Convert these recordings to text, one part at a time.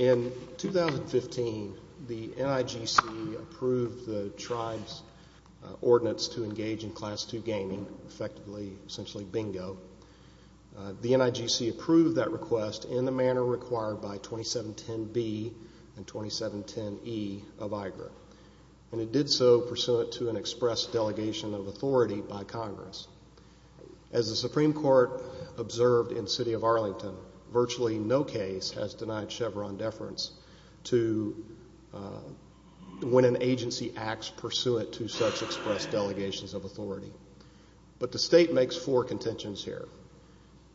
In 2015, the NIGC approved the Tribe's Ordinance to Engage in Class II Gaming, BINGO. The NIGC approved that request in the manner required by 2710B and 2710E of IGRA, pursuant to an express delegation of authority by Congress. As the Supreme Court observed in the City of Arlington, virtually no case has denied Chevron deference to when an agency acts pursuant to such express delegations of authority. But the State makes four contentions here.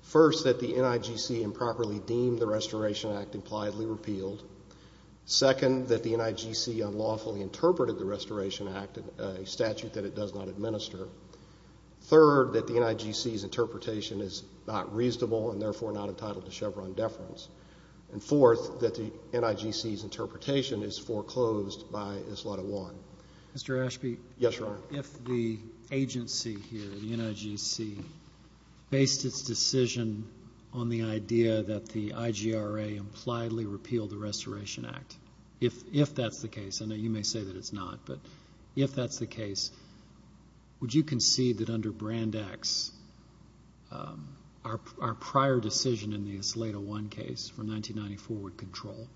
First that the NIGC improperly deemed the Restoration Act impliedly repealed. Second, that the NIGC unlawfully interpreted the Restoration Act, a statute that it does not administer. Third, that the NIGC's interpretation is not reasonable and therefore not entitled to Chevron deference. And fourth, that the NIGC's interpretation is foreclosed by a slot of one. Mr. Ashby, if the agency here, the NIGC, based its decision on the idea that the IGRA impliedly repealed the Restoration Act, if that's the case, I know you may say that it's not, but if that's the case, would you concede that under Brand X, our prior decision in the Isolato One case from 1994 would control?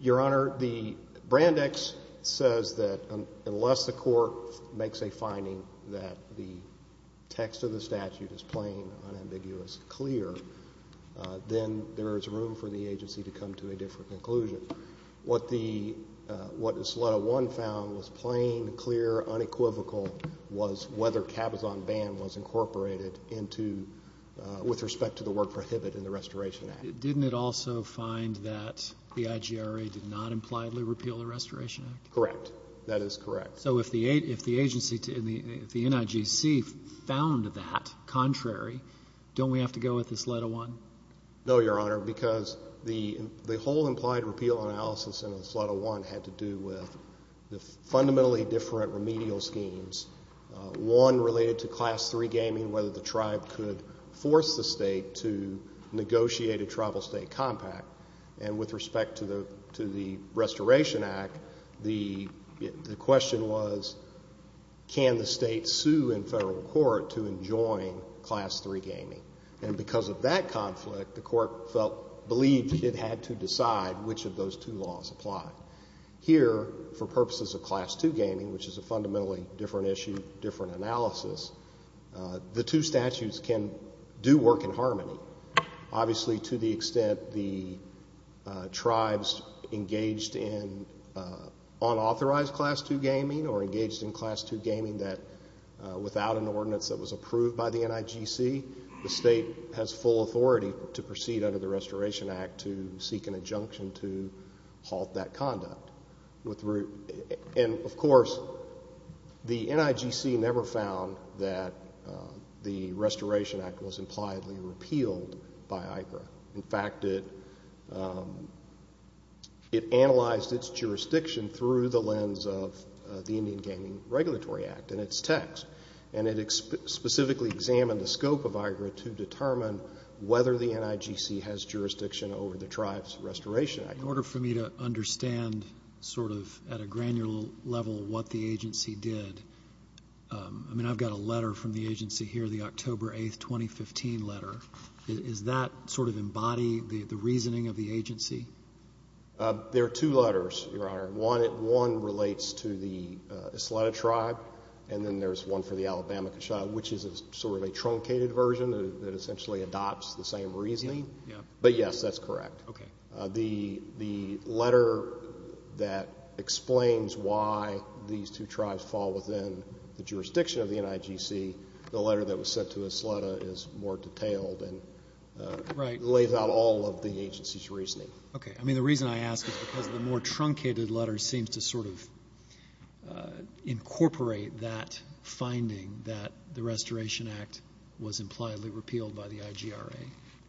Your Honor, the Brand X says that unless the court makes a finding that the text of the What the Isolato One found was plain, clear, unequivocal was whether cabazon ban was incorporated into, with respect to the word prohibit in the Restoration Act. Didn't it also find that the IGRA did not impliedly repeal the Restoration Act? Correct. That is correct. So if the agency, if the NIGC found that contrary, don't we have to go with Isolato One? No, Your Honor, because the whole implied repeal analysis in Isolato One had to do with the fundamentally different remedial schemes, one related to class three gaming, whether the tribe could force the state to negotiate a tribal state compact. And with respect to the Restoration Act, the question was, can the state sue in federal court to enjoin class three gaming? And because of that conflict, the court felt, believed it had to decide which of those two laws applied. Here, for purposes of class two gaming, which is a fundamentally different issue, different analysis, the two statutes can do work in harmony. Obviously, to the extent the tribes engaged in unauthorized class two gaming or engaged in class two gaming that without an ordinance that was approved by the NIGC, the state has full authority to proceed under the Restoration Act to seek an injunction to halt that conduct. And of course, the NIGC never found that the Restoration Act was impliedly repealed by IGRA. In fact, it analyzed its jurisdiction through the lens of the Indian Gaming Regulatory Act and its text. And it specifically examined the scope of IGRA to determine whether the NIGC has jurisdiction over the tribe's Restoration Act. In order for me to understand sort of at a granular level what the agency did, I mean, I've got a letter from the agency here, the October 8, 2015 letter. Does that sort of embody the reasoning of the agency? There are two letters, Your Honor. One relates to the Isleta tribe, and then there's one for the Alabama Kashaw, which is sort of a truncated version that essentially adopts the same reasoning. But yes, that's correct. The letter that explains why these two tribes fall within the jurisdiction of the NIGC, the letter that was sent to Isleta is more detailed and lays out all of the agency's reasoning. Okay. I mean, the reason I ask is because the more truncated letter seems to sort of incorporate that finding that the Restoration Act was impliedly repealed by the IGRA.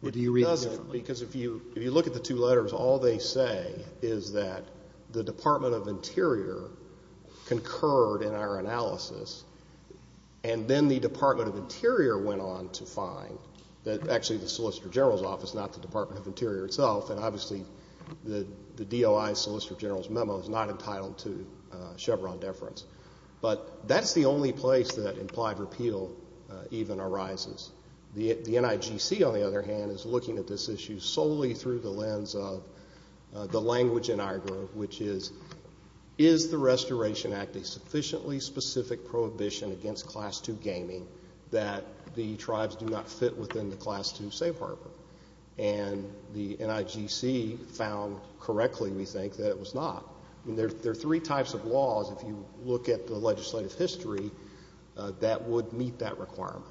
Or do you read it differently? It doesn't. Because if you look at the two letters, all they say is that the Department of Interior concurred in our analysis. And then the Department of Interior went on to find that actually the Solicitor General's Office, not the Department of Interior itself, and obviously the DOI Solicitor General's memo is not entitled to Chevron deference. But that's the only place that implied repeal even arises. The NIGC, on the other hand, is looking at this issue solely through the lens of the Restoration Act, a sufficiently specific prohibition against Class II gaming, that the tribes do not fit within the Class II safe harbor. And the NIGC found correctly, we think, that it was not. I mean, there are three types of laws, if you look at the legislative history, that would meet that requirement.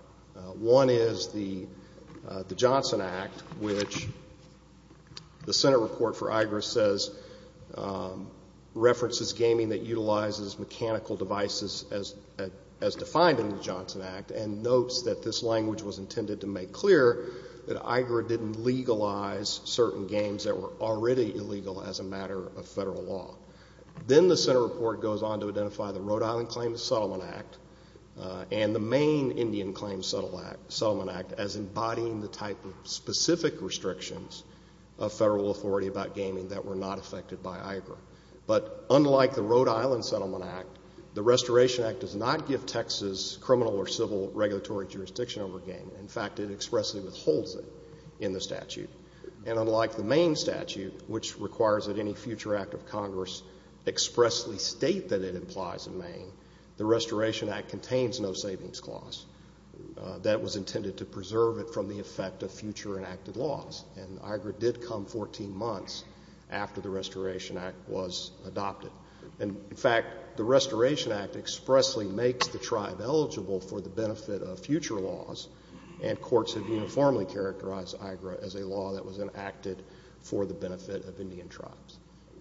One is the Johnson Act, which the Senate report for IGRA says references gaming that utilizes mechanical devices as defined in the Johnson Act and notes that this language was intended to make clear that IGRA didn't legalize certain games that were already illegal as a matter of Federal law. Then the Senate report goes on to identify the Rhode Island Claims Settlement Act and the Maine Indian Claims Settlement Act as embodying the type of specific restrictions of Federal authority about gaming that were not affected by IGRA. But unlike the Rhode Island Settlement Act, the Restoration Act does not give Texas criminal or civil regulatory jurisdiction over gaming. In fact, it expressly withholds it in the statute. And unlike the Maine statute, which requires that any future act of Congress expressly state that it implies in Maine, the Restoration Act contains no savings clause. That was intended to preserve it from the effect of future enacted laws, and IGRA did come 14 months after the Restoration Act was adopted. And in fact, the Restoration Act expressly makes the tribe eligible for the benefit of future laws, and courts have uniformly characterized IGRA as a law that was enacted for the benefit of Indian tribes.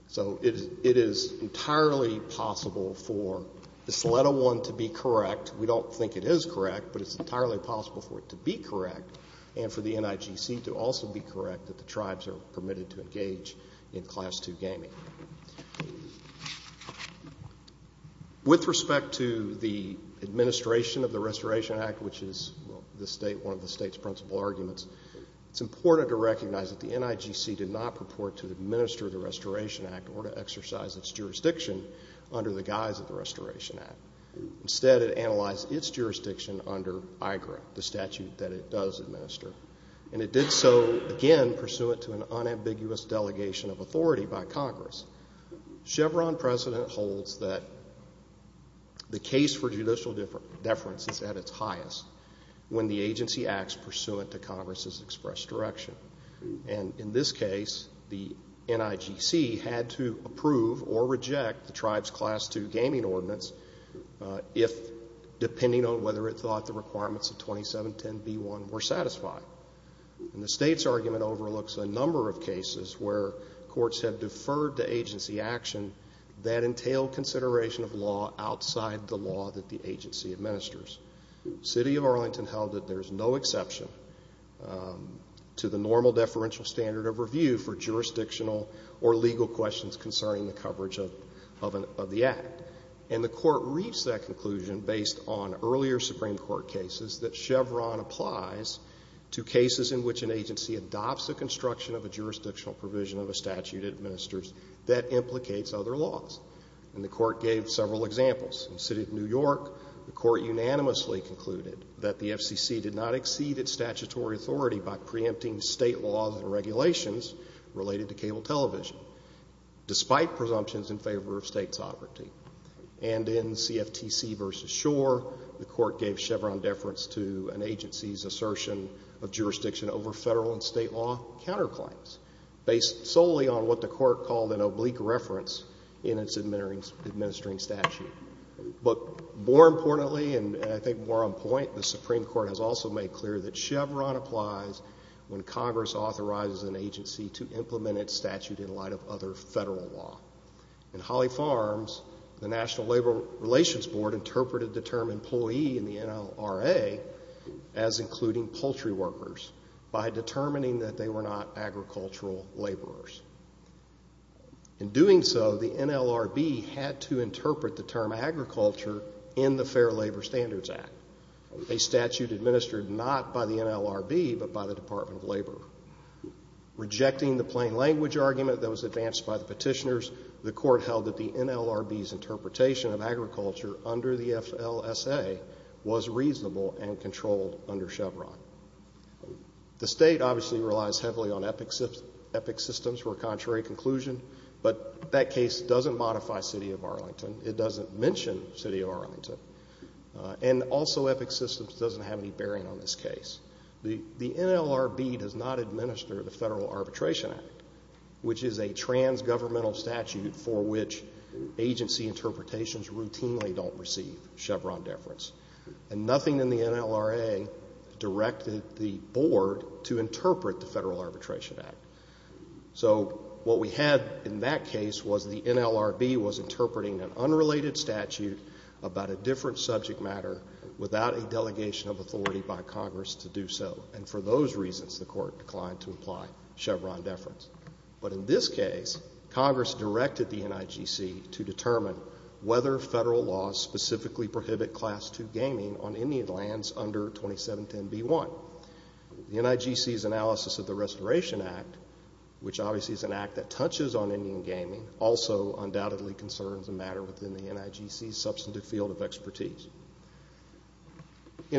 So it is entirely possible for this letter one to be correct. We don't think it is correct, but it's entirely possible for it to be correct and for the tribe permitted to engage in Class II gaming. With respect to the administration of the Restoration Act, which is the state, one of the state's principal arguments, it's important to recognize that the NIGC did not purport to administer the Restoration Act or to exercise its jurisdiction under the guise of the Restoration Act. Instead, it analyzed its jurisdiction under IGRA, the statute that it does administer. And it did so, again, pursuant to an unambiguous delegation of authority by Congress. Chevron precedent holds that the case for judicial deference is at its highest when the agency acts pursuant to Congress's expressed direction. And in this case, the NIGC had to approve or reject the tribe's Class II gaming ordinance if, depending on whether it thought the requirements of 2710b1 were satisfied. And the state's argument overlooks a number of cases where courts have deferred to agency action that entail consideration of law outside the law that the agency administers. City of Arlington held that there is no exception to the normal deferential standard of review for jurisdictional or legal questions concerning the coverage of the Act. And the Court reached that conclusion based on earlier Supreme Court cases that Chevron applies to cases in which an agency adopts a construction of a jurisdictional provision of a statute it administers that implicates other laws. And the Court gave several examples. In the city of New York, the Court unanimously concluded that the FCC did not exceed its statutory authority by preempting state laws and regulations related to cable television, despite presumptions in favor of state sovereignty. And in CFTC v. Schor, the Court gave Chevron deference to an agency's assertion of jurisdiction over federal and state law counterclaims, based solely on what the Court called an oblique reference in its administering statute. But more importantly, and I think more on point, the Supreme Court has also made clear that Chevron applies when Congress authorizes an agency to implement its statute in light of other federal law. In Holly Farms, the National Labor Relations Board interpreted the term employee in the NLRA as including poultry workers by determining that they were not agricultural laborers. In doing so, the NLRB had to interpret the term agriculture in the Fair Labor Standards Act. A statute administered not by the NLRB, but by the Department of Labor. Rejecting the plain language argument that was advanced by the petitioners, the Court held that the NLRB's interpretation of agriculture under the FLSA was reasonable and controlled under Chevron. The State obviously relies heavily on EPIC systems for a contrary conclusion, but that case doesn't modify city of Arlington. It doesn't mention city of Arlington. And also EPIC systems doesn't have any bearing on this case. The NLRB does not administer the Federal Arbitration Act, which is a transgovernmental statute for which agency interpretations routinely don't receive Chevron deference. And nothing in the NLRA directed the Board to interpret the Federal Arbitration Act. So what we had in that case was the NLRB was interpreting an unrelated statute about a different subject matter without a delegation of authority by Congress to do so. And for those reasons, the Court declined to apply Chevron deference. But in this case, Congress directed the NIGC to determine whether Federal laws specifically prohibit Class II gaming on Indian lands under 2710b1. The NIGC's analysis of the Restoration Act, which obviously is an act that touches on In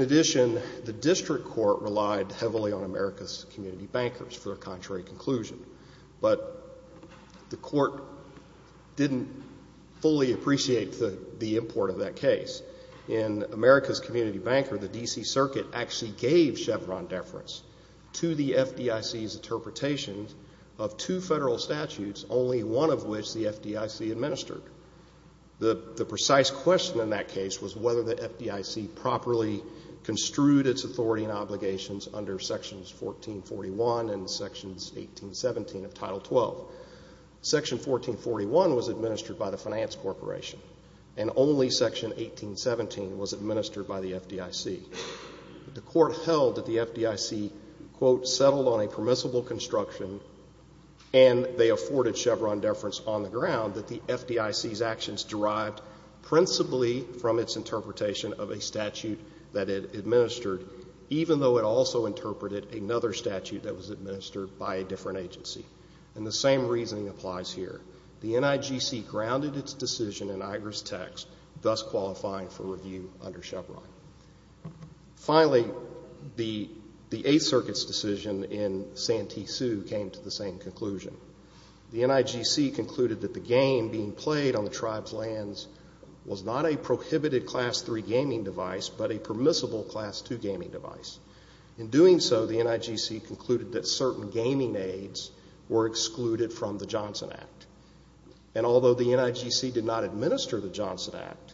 addition, the district court relied heavily on America's community bankers for a contrary conclusion, but the Court didn't fully appreciate the import of that case. In America's community banker, the D.C. Circuit actually gave Chevron deference to the FDIC's interpretation of two Federal statutes, only one of which the FDIC administered. The precise question in that case was whether the FDIC properly construed its authority and obligations under Sections 1441 and Sections 1817 of Title 12. Section 1441 was administered by the Finance Corporation, and only Section 1817 was administered by the FDIC. The Court held that the FDIC, quote, settled on a permissible construction and they afforded Chevron deference on the ground that the FDIC's actions derived principally from its interpretation of a statute that it administered, even though it also interpreted another statute that was administered by a different agency. And the same reasoning applies here. The NIGC grounded its decision in Igris text, thus qualifying for review under Chevron. Finally, the Eighth Circuit's decision in Santee Sioux came to the same conclusion. The NIGC concluded that the game being played on the tribe's lands was not a prohibited Class III gaming device, but a permissible Class II gaming device. In doing so, the NIGC concluded that certain gaming aids were excluded from the Johnson Act. And although the NIGC did not administer the Johnson Act,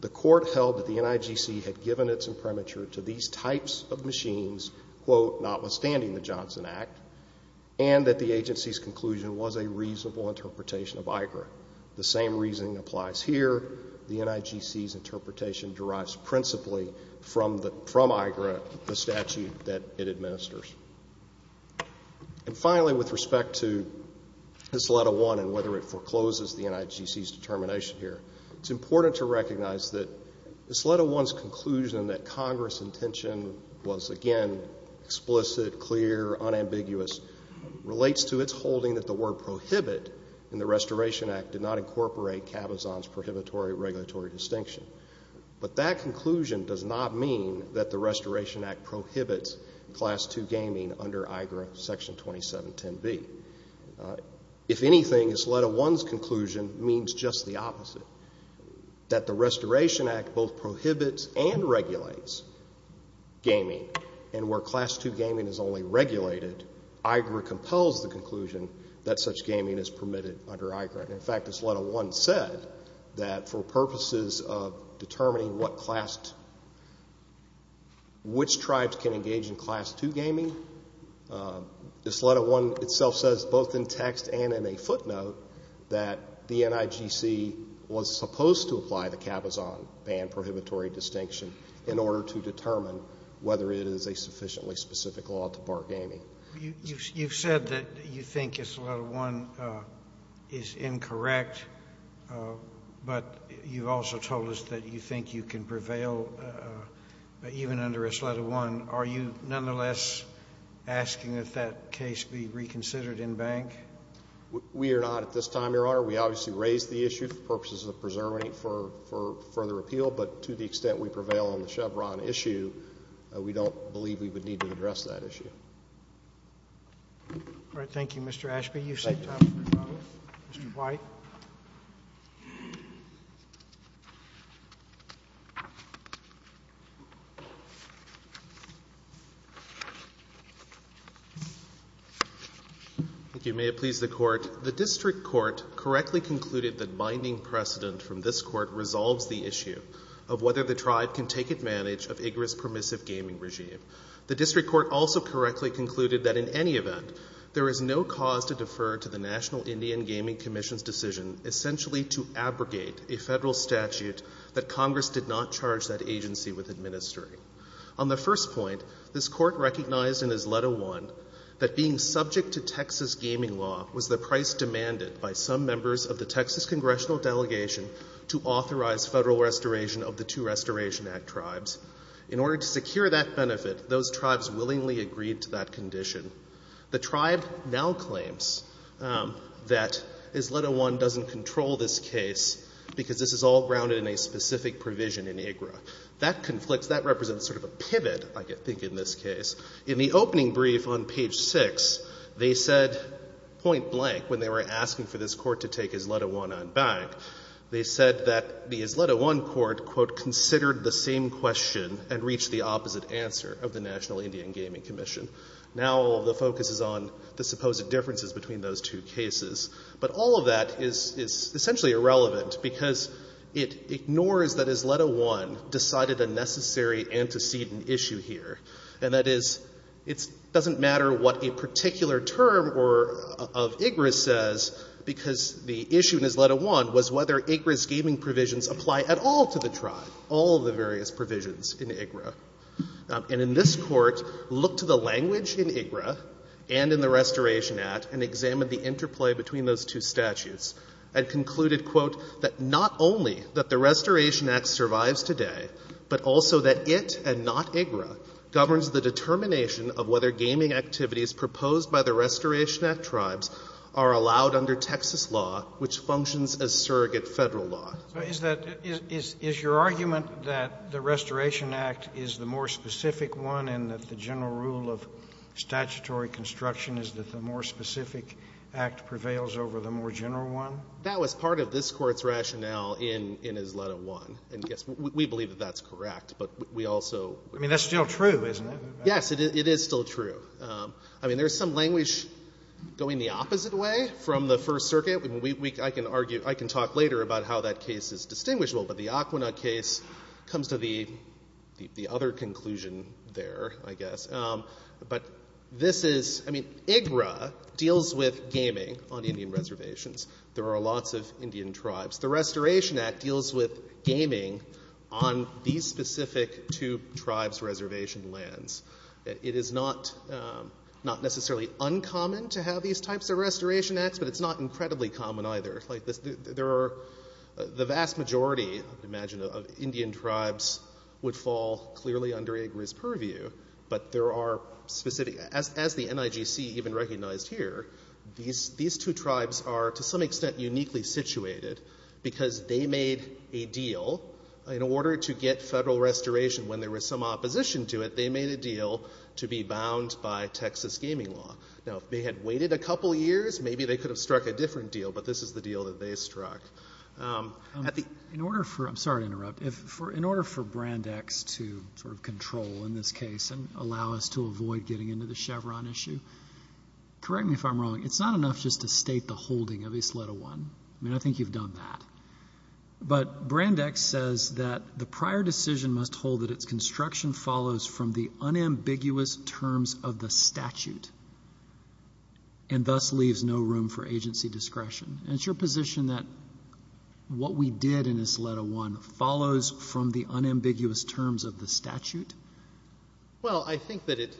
the Court held that the NIGC had given its imprimatur to these types of machines, quote, notwithstanding the Johnson Act, and that the agency's conclusion was a reasonable interpretation of Igris. The same reasoning applies here. The NIGC's interpretation derives principally from Igris, the statute that it administers. And finally, with respect to this Letter I and whether it forecloses the NIGC's determination here, it's important to recognize that this Letter I's conclusion that Congress' intention was, again, explicit, clear, unambiguous, relates to its holding that the word prohibit in the Restoration Act did not incorporate Cabazon's prohibitory regulatory distinction. But that conclusion does not mean that the Restoration Act prohibits Class II gaming under IGRA Section 2710B. If anything, this Letter I's conclusion means just the opposite, that the Restoration Act both prohibits and regulates gaming. And where Class II gaming is only regulated, IGRA compels the conclusion that such gaming is permitted under IGRA. And in fact, this Letter I said that for purposes of determining what Class II, which tribes can engage in Class II gaming, this Letter I itself says both in text and in a footnote that the NIGC was supposed to apply the Cabazon ban prohibitory distinction in order to determine whether it is a sufficiently specific law to bar gaming. You've said that you think this Letter I is incorrect, but you've also told us that you think you can prevail even under this Letter I. Are you nonetheless asking that that case be reconsidered in bank? We are not at this time, Your Honor. We obviously raised the issue for purposes of preserving it for further appeal, but to the extent we prevail on the Chevron issue, we don't believe we would need to address that issue. All right. Thank you, Mr. Ashby. You've saved time for your comment. Mr. White. Thank you. May it please the Court. The District Court correctly concluded that binding precedent from this Court resolves the issue of whether the tribe can take advantage of IGRA's permissive gaming regime. The District Court also correctly concluded that in any event, there is no cause to defer to the National Indian Gaming Commission's decision essentially to abrogate a federal statute that Congress did not charge that agency with administering. On the first point, this Court recognized in its Letter I that being subject to Texas gaming law was the price demanded by some members of the Texas congressional delegation to authorize federal restoration of the Two Restoration Act tribes. In order to secure that benefit, those tribes willingly agreed to that condition. The tribe now claims that his Letter I doesn't control this case because this is all grounded in a specific provision in IGRA. That conflicts. That represents sort of a pivot, I think, in this case. In the opening brief on page 6, they said point blank when they were asking for this Court to take his Letter I on bank, they said that the his Letter I Court, quote, considered the same question and reached the opposite answer of the National Indian Gaming Commission. Now all of the focus is on the supposed differences between those two cases. But all of that is essentially irrelevant because it ignores that his Letter I decided a necessary antecedent issue here. And that is it doesn't matter what a particular term of IGRA says because the issue in his Letter I was whether IGRA's gaming provisions apply at all to the tribe, all of the various provisions in IGRA. And in this Court, looked to the language in IGRA and in the Restoration Act and examined the interplay between those two statutes and concluded, quote, that not only that the Restoration Act survives today, but also that it and not IGRA governs the determination of whether gaming activities proposed by the Restoration Act tribes are allowed under Texas law, which functions as surrogate Federal law. So is that — is your argument that the Restoration Act is the more specific one and that the general rule of statutory construction is that the more specific act prevails over the more general one? That was part of this Court's rationale in his Letter I. And, yes, we believe that that's correct. But we also — I mean, that's still true, isn't it? Yes, it is still true. I mean, there's some language going the opposite way from the First Circuit. I mean, we — I can argue — I can talk later about how that case is distinguishable. But the Aquinnah case comes to the other conclusion there, I guess. But this is — I mean, IGRA deals with gaming on Indian reservations. There are lots of Indian tribes. The Restoration Act deals with gaming on these specific two tribes' reservation lands. It is not necessarily uncommon to have these types of Restoration Acts, but it's not incredibly common either. Like, there are — the vast majority, I would imagine, of Indian tribes would fall clearly under IGRA's purview. But there are specific — as the NIGC even recognized here, these two tribes are, to some extent, uniquely situated because they made a deal in order to get Federal restoration. When there was some opposition to it, they made a deal to be bound by Texas gaming law. Now, if they had waited a couple years, maybe they could have struck a different deal. But this is the deal that they struck. At the — In order for — I'm sorry to interrupt. If — in order for Brandeis to sort of control in this case and allow us to avoid getting into the Chevron issue, correct me if I'm wrong. It's not enough just to state the holding of Isleta I. I mean, I think you've done that. But Brandeis says that the prior decision must hold that its construction follows from the unambiguous terms of the statute and thus leaves no room for agency discretion. And it's your position that what we did in Isleta I follows from the unambiguous terms of the statute? Well, I think that it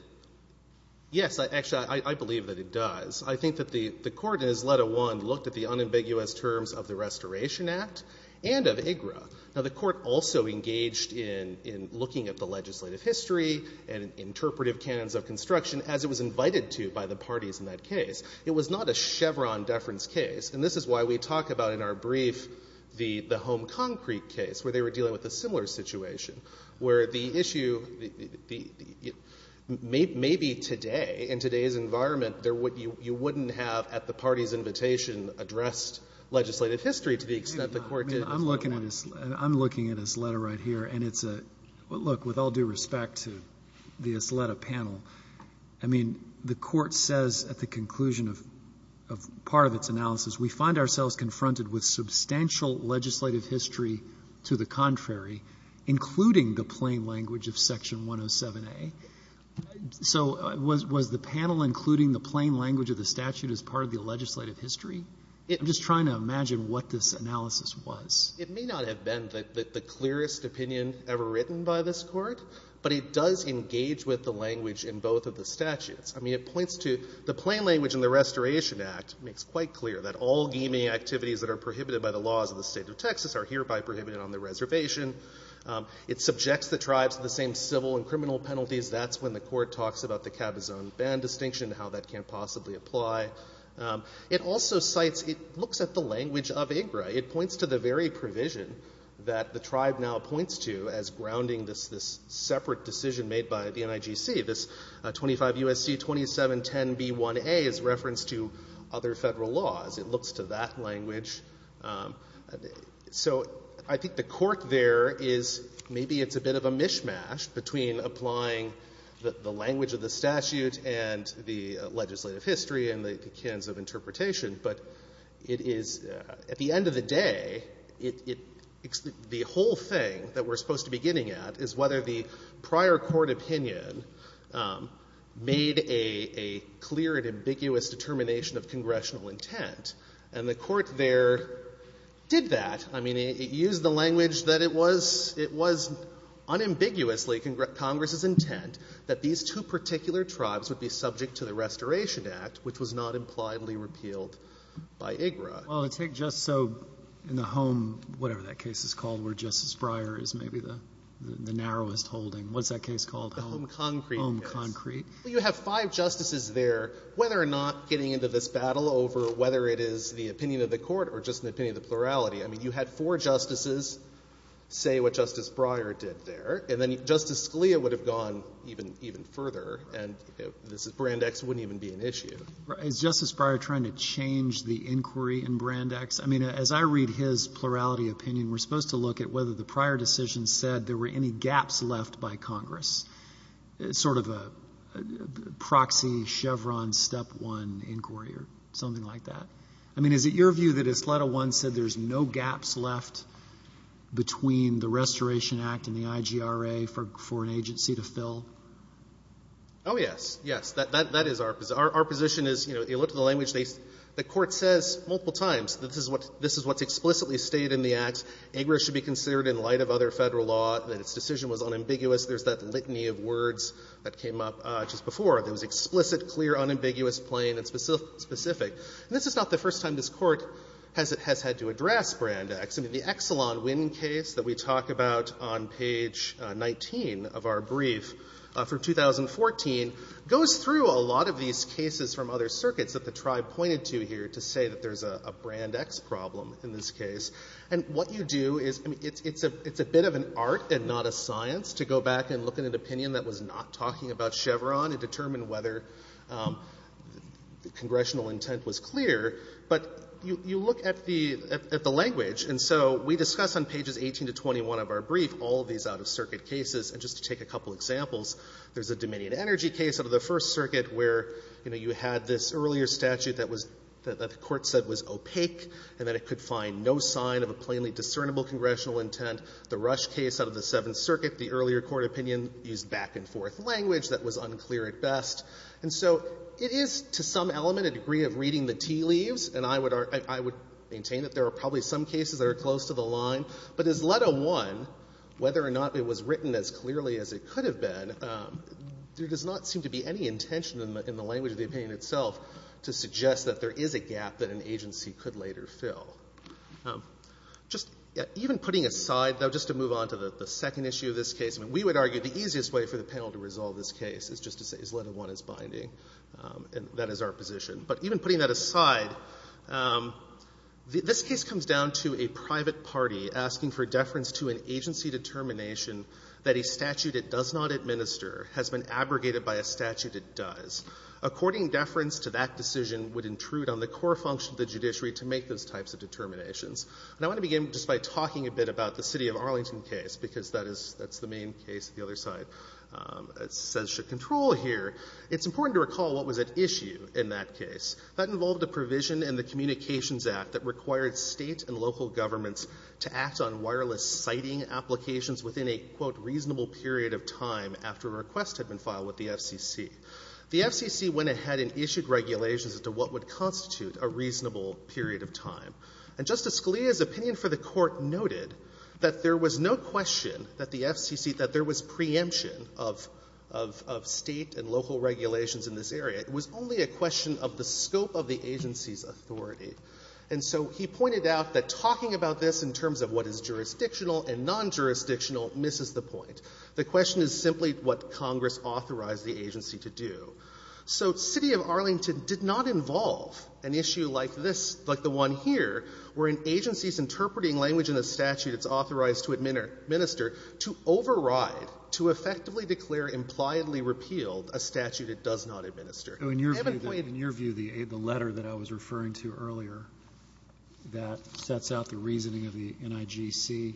— yes, actually, I believe that it does. I think that the Court in Isleta I looked at the unambiguous terms of the Restoration Act and of IGRA. Now, the Court also engaged in — in looking at the legislative history and interpretive canons of construction, as it was invited to by the parties in that case. It was not a Chevron deference case. And this is why we talk about in our brief the — the Home Concrete case, where they were dealing with a similar situation, where the issue — the — maybe today, in today's environment, there would — you wouldn't have, at the party's invitation, addressed legislative history to the extent the Court did. I'm looking at — I'm looking at Isleta right here, and it's a — well, look, with all due respect to the Isleta panel, I mean, the Court says at the conclusion of — of part of its analysis, we find ourselves confronted with substantial legislative history to the contrary, including the plain language of Section 107a. So was — was the panel including the plain language of the statute as part of the legislative history? I'm just trying to imagine what this analysis was. It may not have been the clearest opinion ever written by this Court, but it does engage with the language in both of the statutes. I mean, it points to — the plain language in the Restoration Act makes quite clear that all gaming activities that are prohibited by the laws of the State of Texas are hereby prohibited on the reservation. It subjects the tribes to the same civil and criminal penalties. That's when the Court talks about the cabazon ban distinction and how that can possibly apply. It also cites — it looks at the language of IGRA. It points to the very provision that the tribe now points to as grounding this separate decision made by the NIGC. This 25 U.S.C. 2710b1a is referenced to other Federal laws. It looks to that language. So I think the Court there is — maybe it's a bit of a mishmash between applying the language of the statute and the legislative history and the kinds of interpretation, but it is — at the end of the day, it — the whole thing that we're supposed to be getting at is whether the prior Court opinion made a clear and ambiguous determination of congressional intent. And the Court there did that. I mean, it used the language that it was — it was unambiguously Congress's intent that these two particular tribes would be subject to the Restoration Act, which was not impliedly repealed by IGRA. Well, take just so in the home, whatever that case is called, where Justice Breyer is maybe the narrowest holding. What's that case called? Home concrete. Home concrete. Well, you have five justices there. Whether or not getting into this battle over whether it is the opinion of the Court or just an opinion of the plurality, I mean, you had four justices say what Justice Breyer did there. And then Justice Scalia would have gone even further. And this — Brand X wouldn't even be an issue. Is Justice Breyer trying to change the inquiry in Brand X? I mean, as I read his plurality opinion, we're supposed to look at whether the prior decision said there were any gaps left by Congress, sort of a proxy Chevron step one inquiry or something like that. I mean, is it your view that Asleta I said there's no gaps left between the Restoration Act and the IGRA for an agency to fill? Oh, yes. Yes. That is our position. Our position is, you know, you look at the language, the Court says multiple times that this is what's explicitly stated in the Act. IGRA should be considered in light of other Federal law, that its decision was unambiguous. There's that litany of words that came up just before. It was explicit, clear, unambiguous, plain, and specific. And this is not the first time this Court has had to address Brand X. I mean, the Exelon Wynn case that we talk about on page 19 of our brief from 2014 goes through a lot of these cases from other circuits that the Tribe pointed to here to say that there's a Brand X problem in this case. And what you do is, I mean, it's a bit of an art and not a science to go back and look at an opinion that was not talking about Chevron and determine whether congressional intent was clear, but you look at the language. And so we discuss on pages 18 to 21 of our brief all these out-of-circuit cases. And just to take a couple examples, there's a Dominion Energy case out of the First Circuit where, you know, you had this earlier statute that was that the Court said was opaque and that it could find no sign of a plainly discernible congressional intent. The Rush case out of the Seventh Circuit, the earlier court opinion used back-and-forth language that was unclear at best. And so it is, to some element, a degree of reading the tea leaves. And I would maintain that there are probably some cases that are close to the line. But as Leta I, whether or not it was written as clearly as it could have been, there does not seem to be any intention in the language of the opinion itself to suggest that there is a gap that an agency could later fill. Just even putting aside, though, just to move on to the second issue of this case, I mean, we would argue the easiest way for the panel to resolve this case is just to say is Leta I is binding, and that is our position. But even putting that aside, this case comes down to a private party asking for deference to an agency determination that a statute it does not administer has been abrogated by a statute it does. According deference to that decision would intrude on the core function of the judiciary to make those types of determinations. And I want to begin just by talking a bit about the City of Arlington case, because that is the main case that the other side says should control here. It's important to recall what was at issue in that case. That involved a provision in the Communications Act that required state and local governments to act on wireless sighting applications within a, quote, reasonable period of time after a request had been filed with the FCC. The FCC went ahead and issued regulations as to what would constitute a reasonable period of time. And Justice Scalia's opinion for the Court noted that there was no question that the FCC, that there was preemption of state and local regulations in this area. It was only a question of the scope of the agency's authority. And so he pointed out that talking about this in terms of what is jurisdictional and non-jurisdictional misses the point. The question is simply what Congress authorized the agency to do. So City of Arlington did not involve an issue like this, like the one here, where an agency is interpreting language in a statute it's authorized to administer to override, to effectively declare impliedly repealed a statute it does not administer. I have a point. Roberts. In your view, the letter that I was referring to earlier that sets out the reasoning of the NIGC,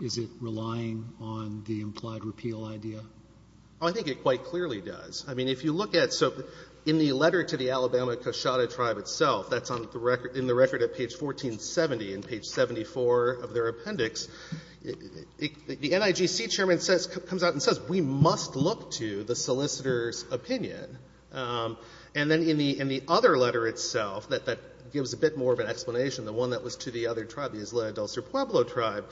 is it relying on the implied repeal idea? I think it quite clearly does. I mean, if you look at, so in the letter to the Alabama-Coshawta Tribe itself, that's on the record, in the record at page 1470, in page 74 of their appendix, the NIGC chairman says, comes out and says, we must look to the solicitor's opinion. And then in the other letter itself, that gives a bit more of an explanation, the one that was to the other tribe, the Isla Del Cerre Pueblo tribe,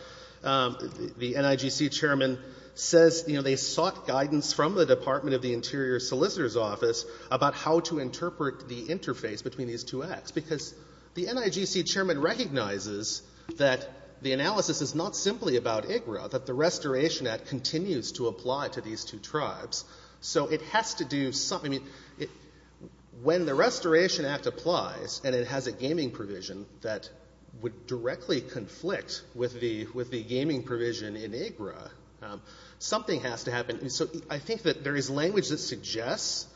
the NIGC chairman says, you know, they sought guidance from the Department of the Interior Solicitor's Office about how to interpret the interface between these two acts, because the NIGC chairman recognizes that the analysis is not simply about IGRA, that the Restoration Act continues to apply to these two tribes. So it has to do something. I mean, when the Restoration Act applies and it has a gaming provision that would apply, something has to happen. So I think that there is language that suggests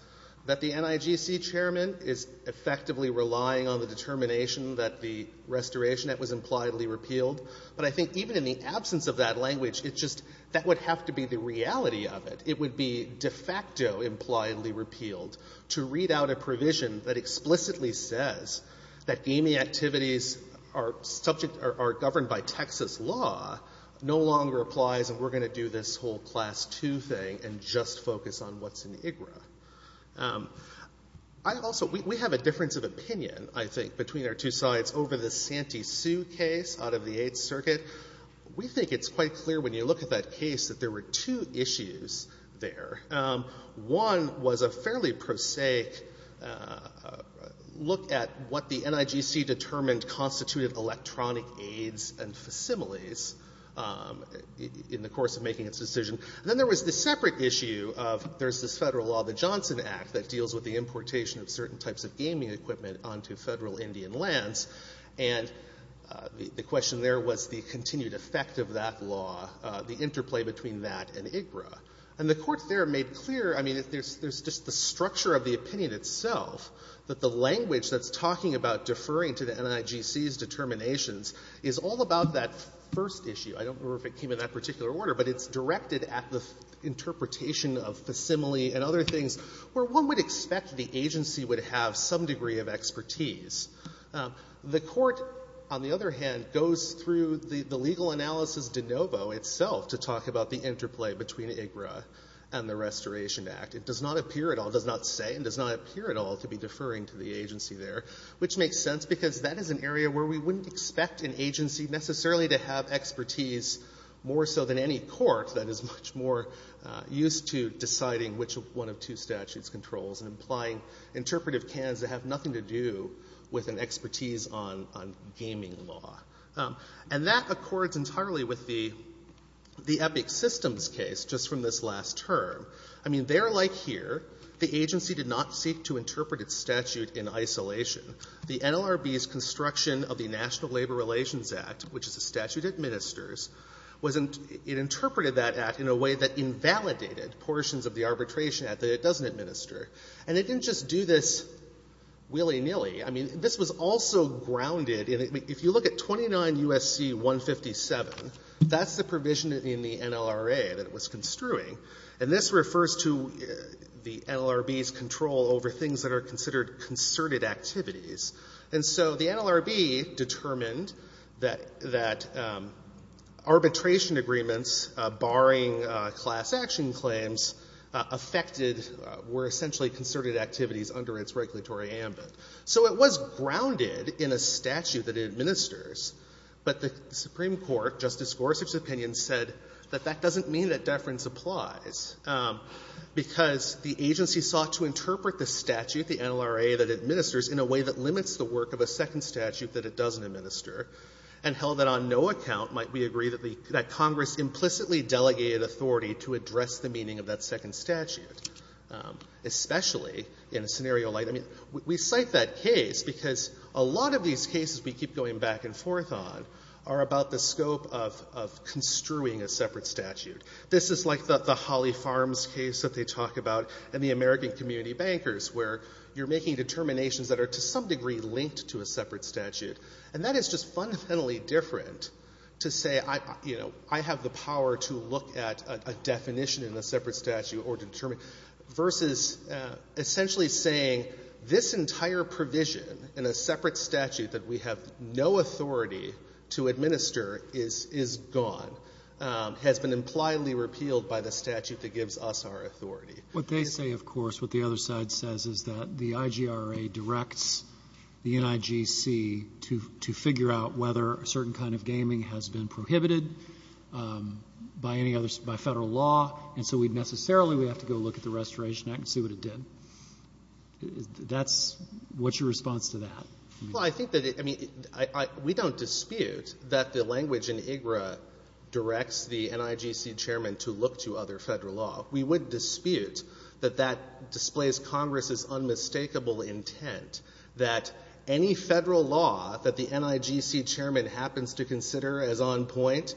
that the NIGC chairman is effectively relying on the determination that the Restoration Act was impliedly repealed. But I think even in the absence of that language, it's just that would have to be the reality of it. It would be de facto impliedly repealed. To read out a provision that explicitly says that gaming activities are subject or are governed by Texas law no longer applies, and we're going to do this whole Class II thing and just focus on what's in IGRA. I also, we have a difference of opinion, I think, between our two sides over the Santee Sioux case out of the Eighth Circuit. We think it's quite clear when you look at that case that there were two issues there. One was a fairly prosaic look at what the NIGC determined constituted electronic aids and facsimiles in the course of making its decision. Then there was the separate issue of there's this federal law, the Johnson Act, that deals with the importation of certain types of gaming equipment onto federal Indian lands. And the question there was the continued effect of that law, the interplay between that and IGRA. And the Court there made clear, I mean, there's just the structure of the opinion itself, that the language that's talking about deferring to the NIGC's determinations is all about that first issue. I don't remember if it came in that particular order, but it's directed at the interpretation of facsimile and other things where one would expect the agency would have some degree of expertise. The Court, on the other hand, goes through the legal analysis de novo itself to talk about the interplay between IGRA and the Restoration Act. It does not appear at all, does not say, and does not appear at all to be deferring to the agency there, which makes sense because that is an area where we wouldn't expect an agency necessarily to have expertise more so than any court that is much more used to deciding which one of two statutes controls and applying interpretive cans that have nothing to do with an expertise on gaming law. And that accords entirely with the Epic Systems case just from this last term. I mean, they're like here. The agency did not seek to interpret its statute in isolation. The NLRB's construction of the National Labor Relations Act, which is a statute that administers, was in — it interpreted that act in a way that invalidated portions of the arbitration act that it doesn't administer. And it didn't just do this willy-nilly. I mean, this was also grounded in — if you look at 29 U.S.C. 157, that's the provision in the NLRA that it was construing. And this refers to the NLRB's control over things that are considered concerted activities. And so the NLRB determined that arbitration agreements barring class action claims affected — were essentially concerted activities under its regulatory ambit. So it was grounded in a statute that it administers. But the Supreme Court, Justice Gorsuch's opinion said that that doesn't mean that it applies, because the agency sought to interpret the statute, the NLRA, that administers in a way that limits the work of a second statute that it doesn't administer, and held that on no account might we agree that the — that Congress implicitly delegated authority to address the meaning of that second statute, especially in a scenario like — I mean, we cite that case because a lot of these that they talk about, and the American community bankers, where you're making determinations that are to some degree linked to a separate statute. And that is just fundamentally different to say, you know, I have the power to look at a definition in a separate statute or determine — versus essentially saying this entire provision in a separate statute that we have no authority to administer is gone, has been impliedly repealed by the statute that gives us our authority. Roberts. What they say, of course, what the other side says is that the IGRA directs the NIGC to figure out whether a certain kind of gaming has been prohibited by any other — by Federal law, and so we'd necessarily — we have to go look at the Restoration Act and see what it did. That's — what's your response to that? Well, I think that — I mean, we don't dispute that the language in IGRA directs the NIGC chairman to look to other Federal law. We would dispute that that displays Congress's unmistakable intent that any Federal law that the NIGC chairman happens to consider as on point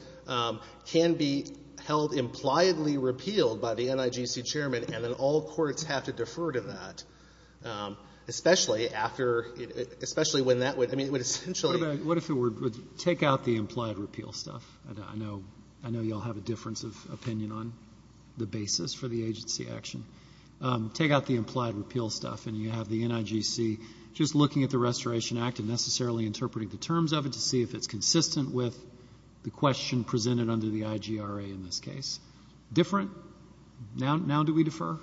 can be held impliedly repealed by the NIGC chairman, and then all courts have to defer to that, especially after — especially when that would — I mean, it would essentially — What if it were — take out the implied repeal stuff. I know you all have a difference of opinion on the basis for the agency action. Take out the implied repeal stuff, and you have the NIGC just looking at the Restoration Act and necessarily interpreting the terms of it to see if it's consistent with the question presented under the IGRA in this case. Different? Now do we defer?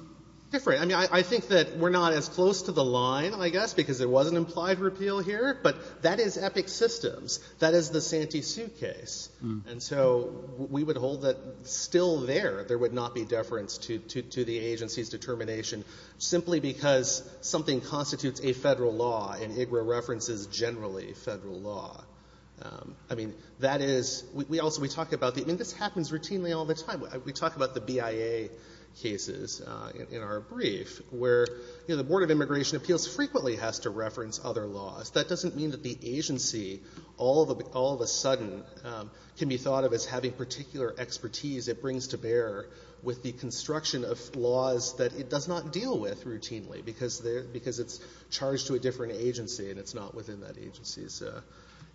Different. I mean, I think that we're not as close to the line, I guess, because there was an implied repeal here, but that is Epic Systems. That is the Santee Suitcase. And so we would hold that still there, there would not be deference to the agency's determination simply because something constitutes a Federal law, and IGRA references generally Federal law. I mean, that is — we also — we talk about the — I mean, this happens routinely all the time. We talk about the BIA cases in our brief where, you know, the Board of Immigration Appeals frequently has to reference other laws. That doesn't mean that the agency all of a sudden can be thought of as having particular expertise it brings to bear with the construction of laws that it does not deal with routinely because it's charged to a different agency and it's not within that agency's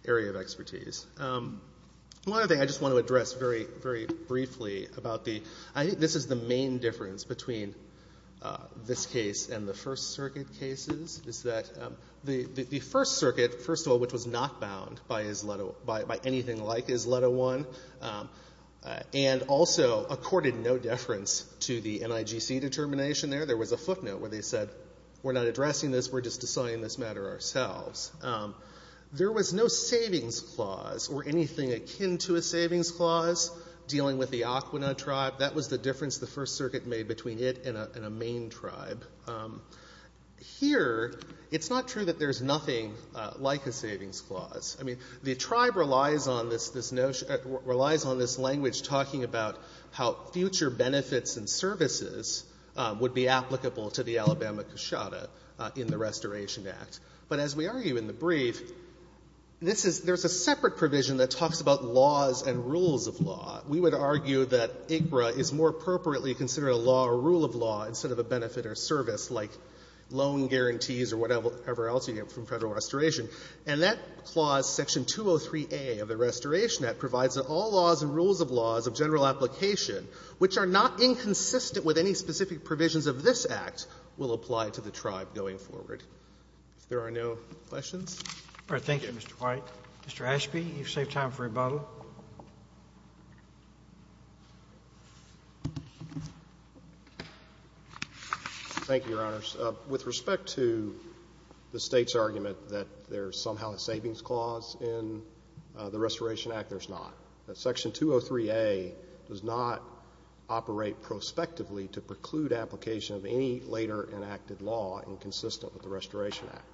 area of expertise. One other thing I just want to address very, very briefly about the — I think this is the main difference between this case and the First Circuit cases, is that the First Circuit, first of all, which was not bound by anything like ISLUT01, and also accorded no deference to the NIGC determination there, there was a footnote where they said, we're not addressing this, we're just deciding this matter ourselves. There was no savings clause or anything akin to a savings clause dealing with the Aquina tribe. That was the difference the First Circuit made between it and a main tribe. Here, it's not true that there's nothing like a savings clause. I mean, the tribe relies on this — relies on this language talking about how future benefits and services would be applicable to the Alabama Kshada in the Restoration Act. But as we argue in the brief, this is — there's a separate provision that talks about laws and rules of law. We would argue that IGRA is more appropriately considered a law or rule of law instead of a benefit or service, like loan guarantees or whatever else you get from Federal Restoration. And that clause, Section 203a of the Restoration Act, provides that all laws and rules of laws of general application, which are not inconsistent with any specific provisions of this Act, will apply to the tribe going forward. If there are no questions. All right. Thank you, Mr. White. Mr. Ashby, you've saved time for rebuttal. Thank you, Your Honors. With respect to the State's argument that there's somehow a savings clause in the Restoration Act, there's not. Section 203a does not operate prospectively to preclude application of any later enacted law inconsistent with the Restoration Act.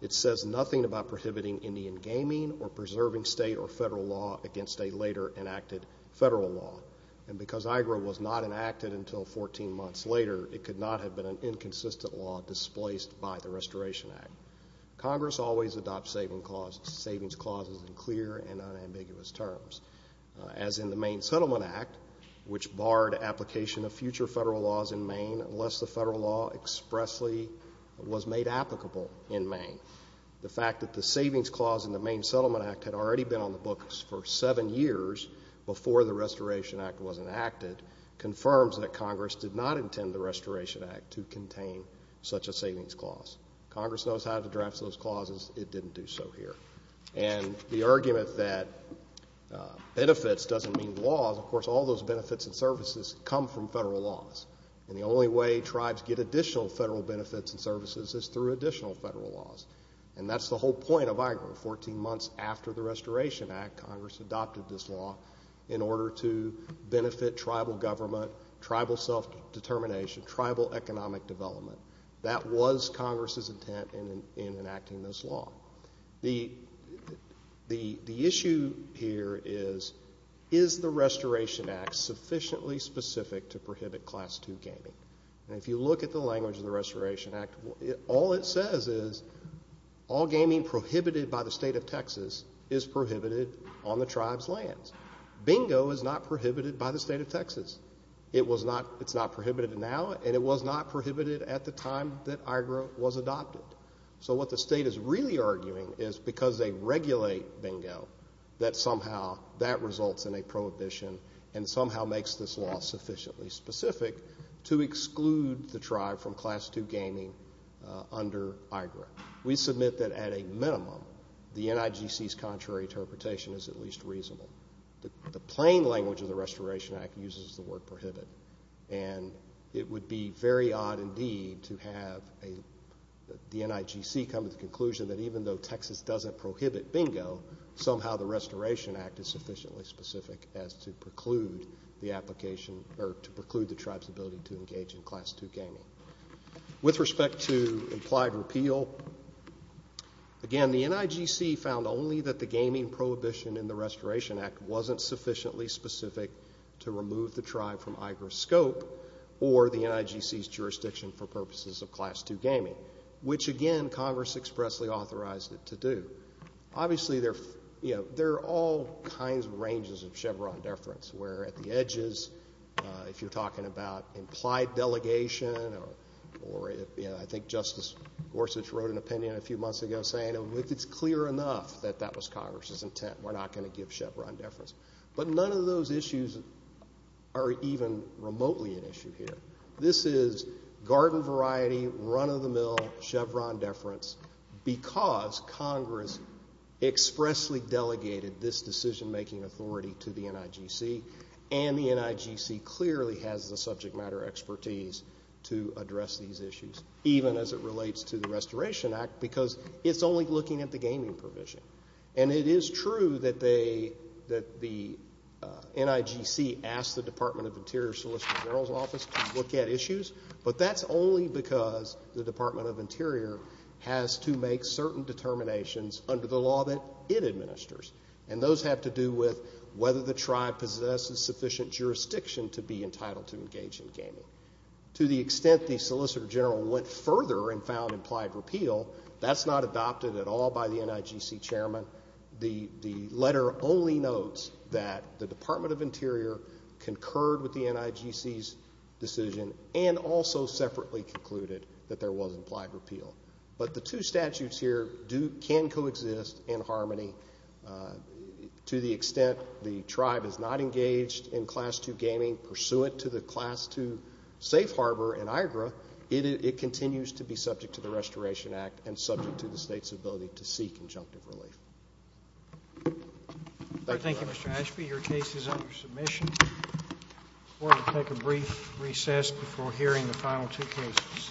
It says nothing about prohibiting Indian gaming or preserving State or Federal law against a later enacted Federal law. And because IGRA was not enacted until 14 months later, it could not have been an inconsistent law displaced by the Restoration Act. Congress always adopts savings clauses in clear and unambiguous terms. As in the Maine Settlement Act, which barred application of future Federal laws in Maine unless the Federal law expressly was made applicable in Maine. The fact that the savings clause in the Maine Settlement Act had already been on the books for seven years before the Restoration Act was enacted confirms that Congress did not intend the Restoration Act to contain such a savings clause. Congress knows how to address those clauses. It didn't do so here. And the argument that benefits doesn't mean laws, of course all those benefits and services come from Federal laws. And the only way tribes get additional Federal benefits and services is through additional Federal laws. And that's the whole point of IGRA. Fourteen months after the Restoration Act, Congress adopted this law in order to benefit Tribal government, Tribal self-determination, Tribal economic development. That was Congress's intent in enacting this law. The issue here is, is the Restoration Act sufficiently specific to prohibit Class II gaming? And if you look at the language of the Restoration Act, all it says is all gaming prohibited by the State of Texas is prohibited on the tribe's lands. Bingo is not prohibited by the State of Texas. It's not prohibited now, and it was not prohibited at the time that IGRA was adopted. So what the State is really arguing is because they regulate bingo, that somehow that results in a prohibition and somehow makes this law sufficiently specific to exclude the tribe from Class II gaming under IGRA. We submit that at a minimum, the NIGC's contrary interpretation is at least reasonable. The plain language of the Restoration Act uses the word prohibit. And it would be very odd, indeed, to have the NIGC come to the conclusion that even though Texas doesn't prohibit bingo, somehow the Restoration Act is sufficiently specific as to preclude the application or to preclude the tribe's ability to engage in Class II gaming. With respect to implied repeal, again, the NIGC found only that the gaming prohibition in the Restoration Act wasn't sufficiently specific to remove the tribe from IGRA's scope or the NIGC's jurisdiction for purposes of Class II gaming, which, again, Congress expressly authorized it to do. Obviously, there are all kinds of ranges of Chevron deference, where at the edges, if you're talking about implied delegation or I think Justice Gorsuch wrote an opinion a few months ago saying it's clear enough that that was Congress's intent, we're not going to give Chevron deference. But none of those issues are even remotely an issue here. This is garden variety, run-of-the-mill Chevron deference because Congress expressly delegated this decision-making authority to the NIGC, and the NIGC clearly has the subject matter expertise to address these issues, even as it relates to the Restoration Act, because it's only looking at the gaming provision. And it is true that the NIGC asked the Department of Interior Solicitor General's office to look at issues, but that's only because the Department of Interior has to make certain determinations under the law that it administers. And those have to do with whether the tribe possesses sufficient jurisdiction to be entitled to engage in gaming. To the extent the Solicitor General went further and found implied repeal, that's not adopted at all by the NIGC chairman. The letter only notes that the Department of Interior concurred with the NIGC's decision and also separately concluded that there was implied repeal. But the two statutes here can coexist in harmony. To the extent the tribe is not engaged in Class 2 gaming pursuant to the Class 2 safe harbor in Niagara, it continues to be subject to the Restoration Act and subject to the state's ability to seek conjunctive relief. Thank you, Your Honor. Thank you, Mr. Ashby. Your case is under submission. The Court will take a brief recess before hearing the final two cases.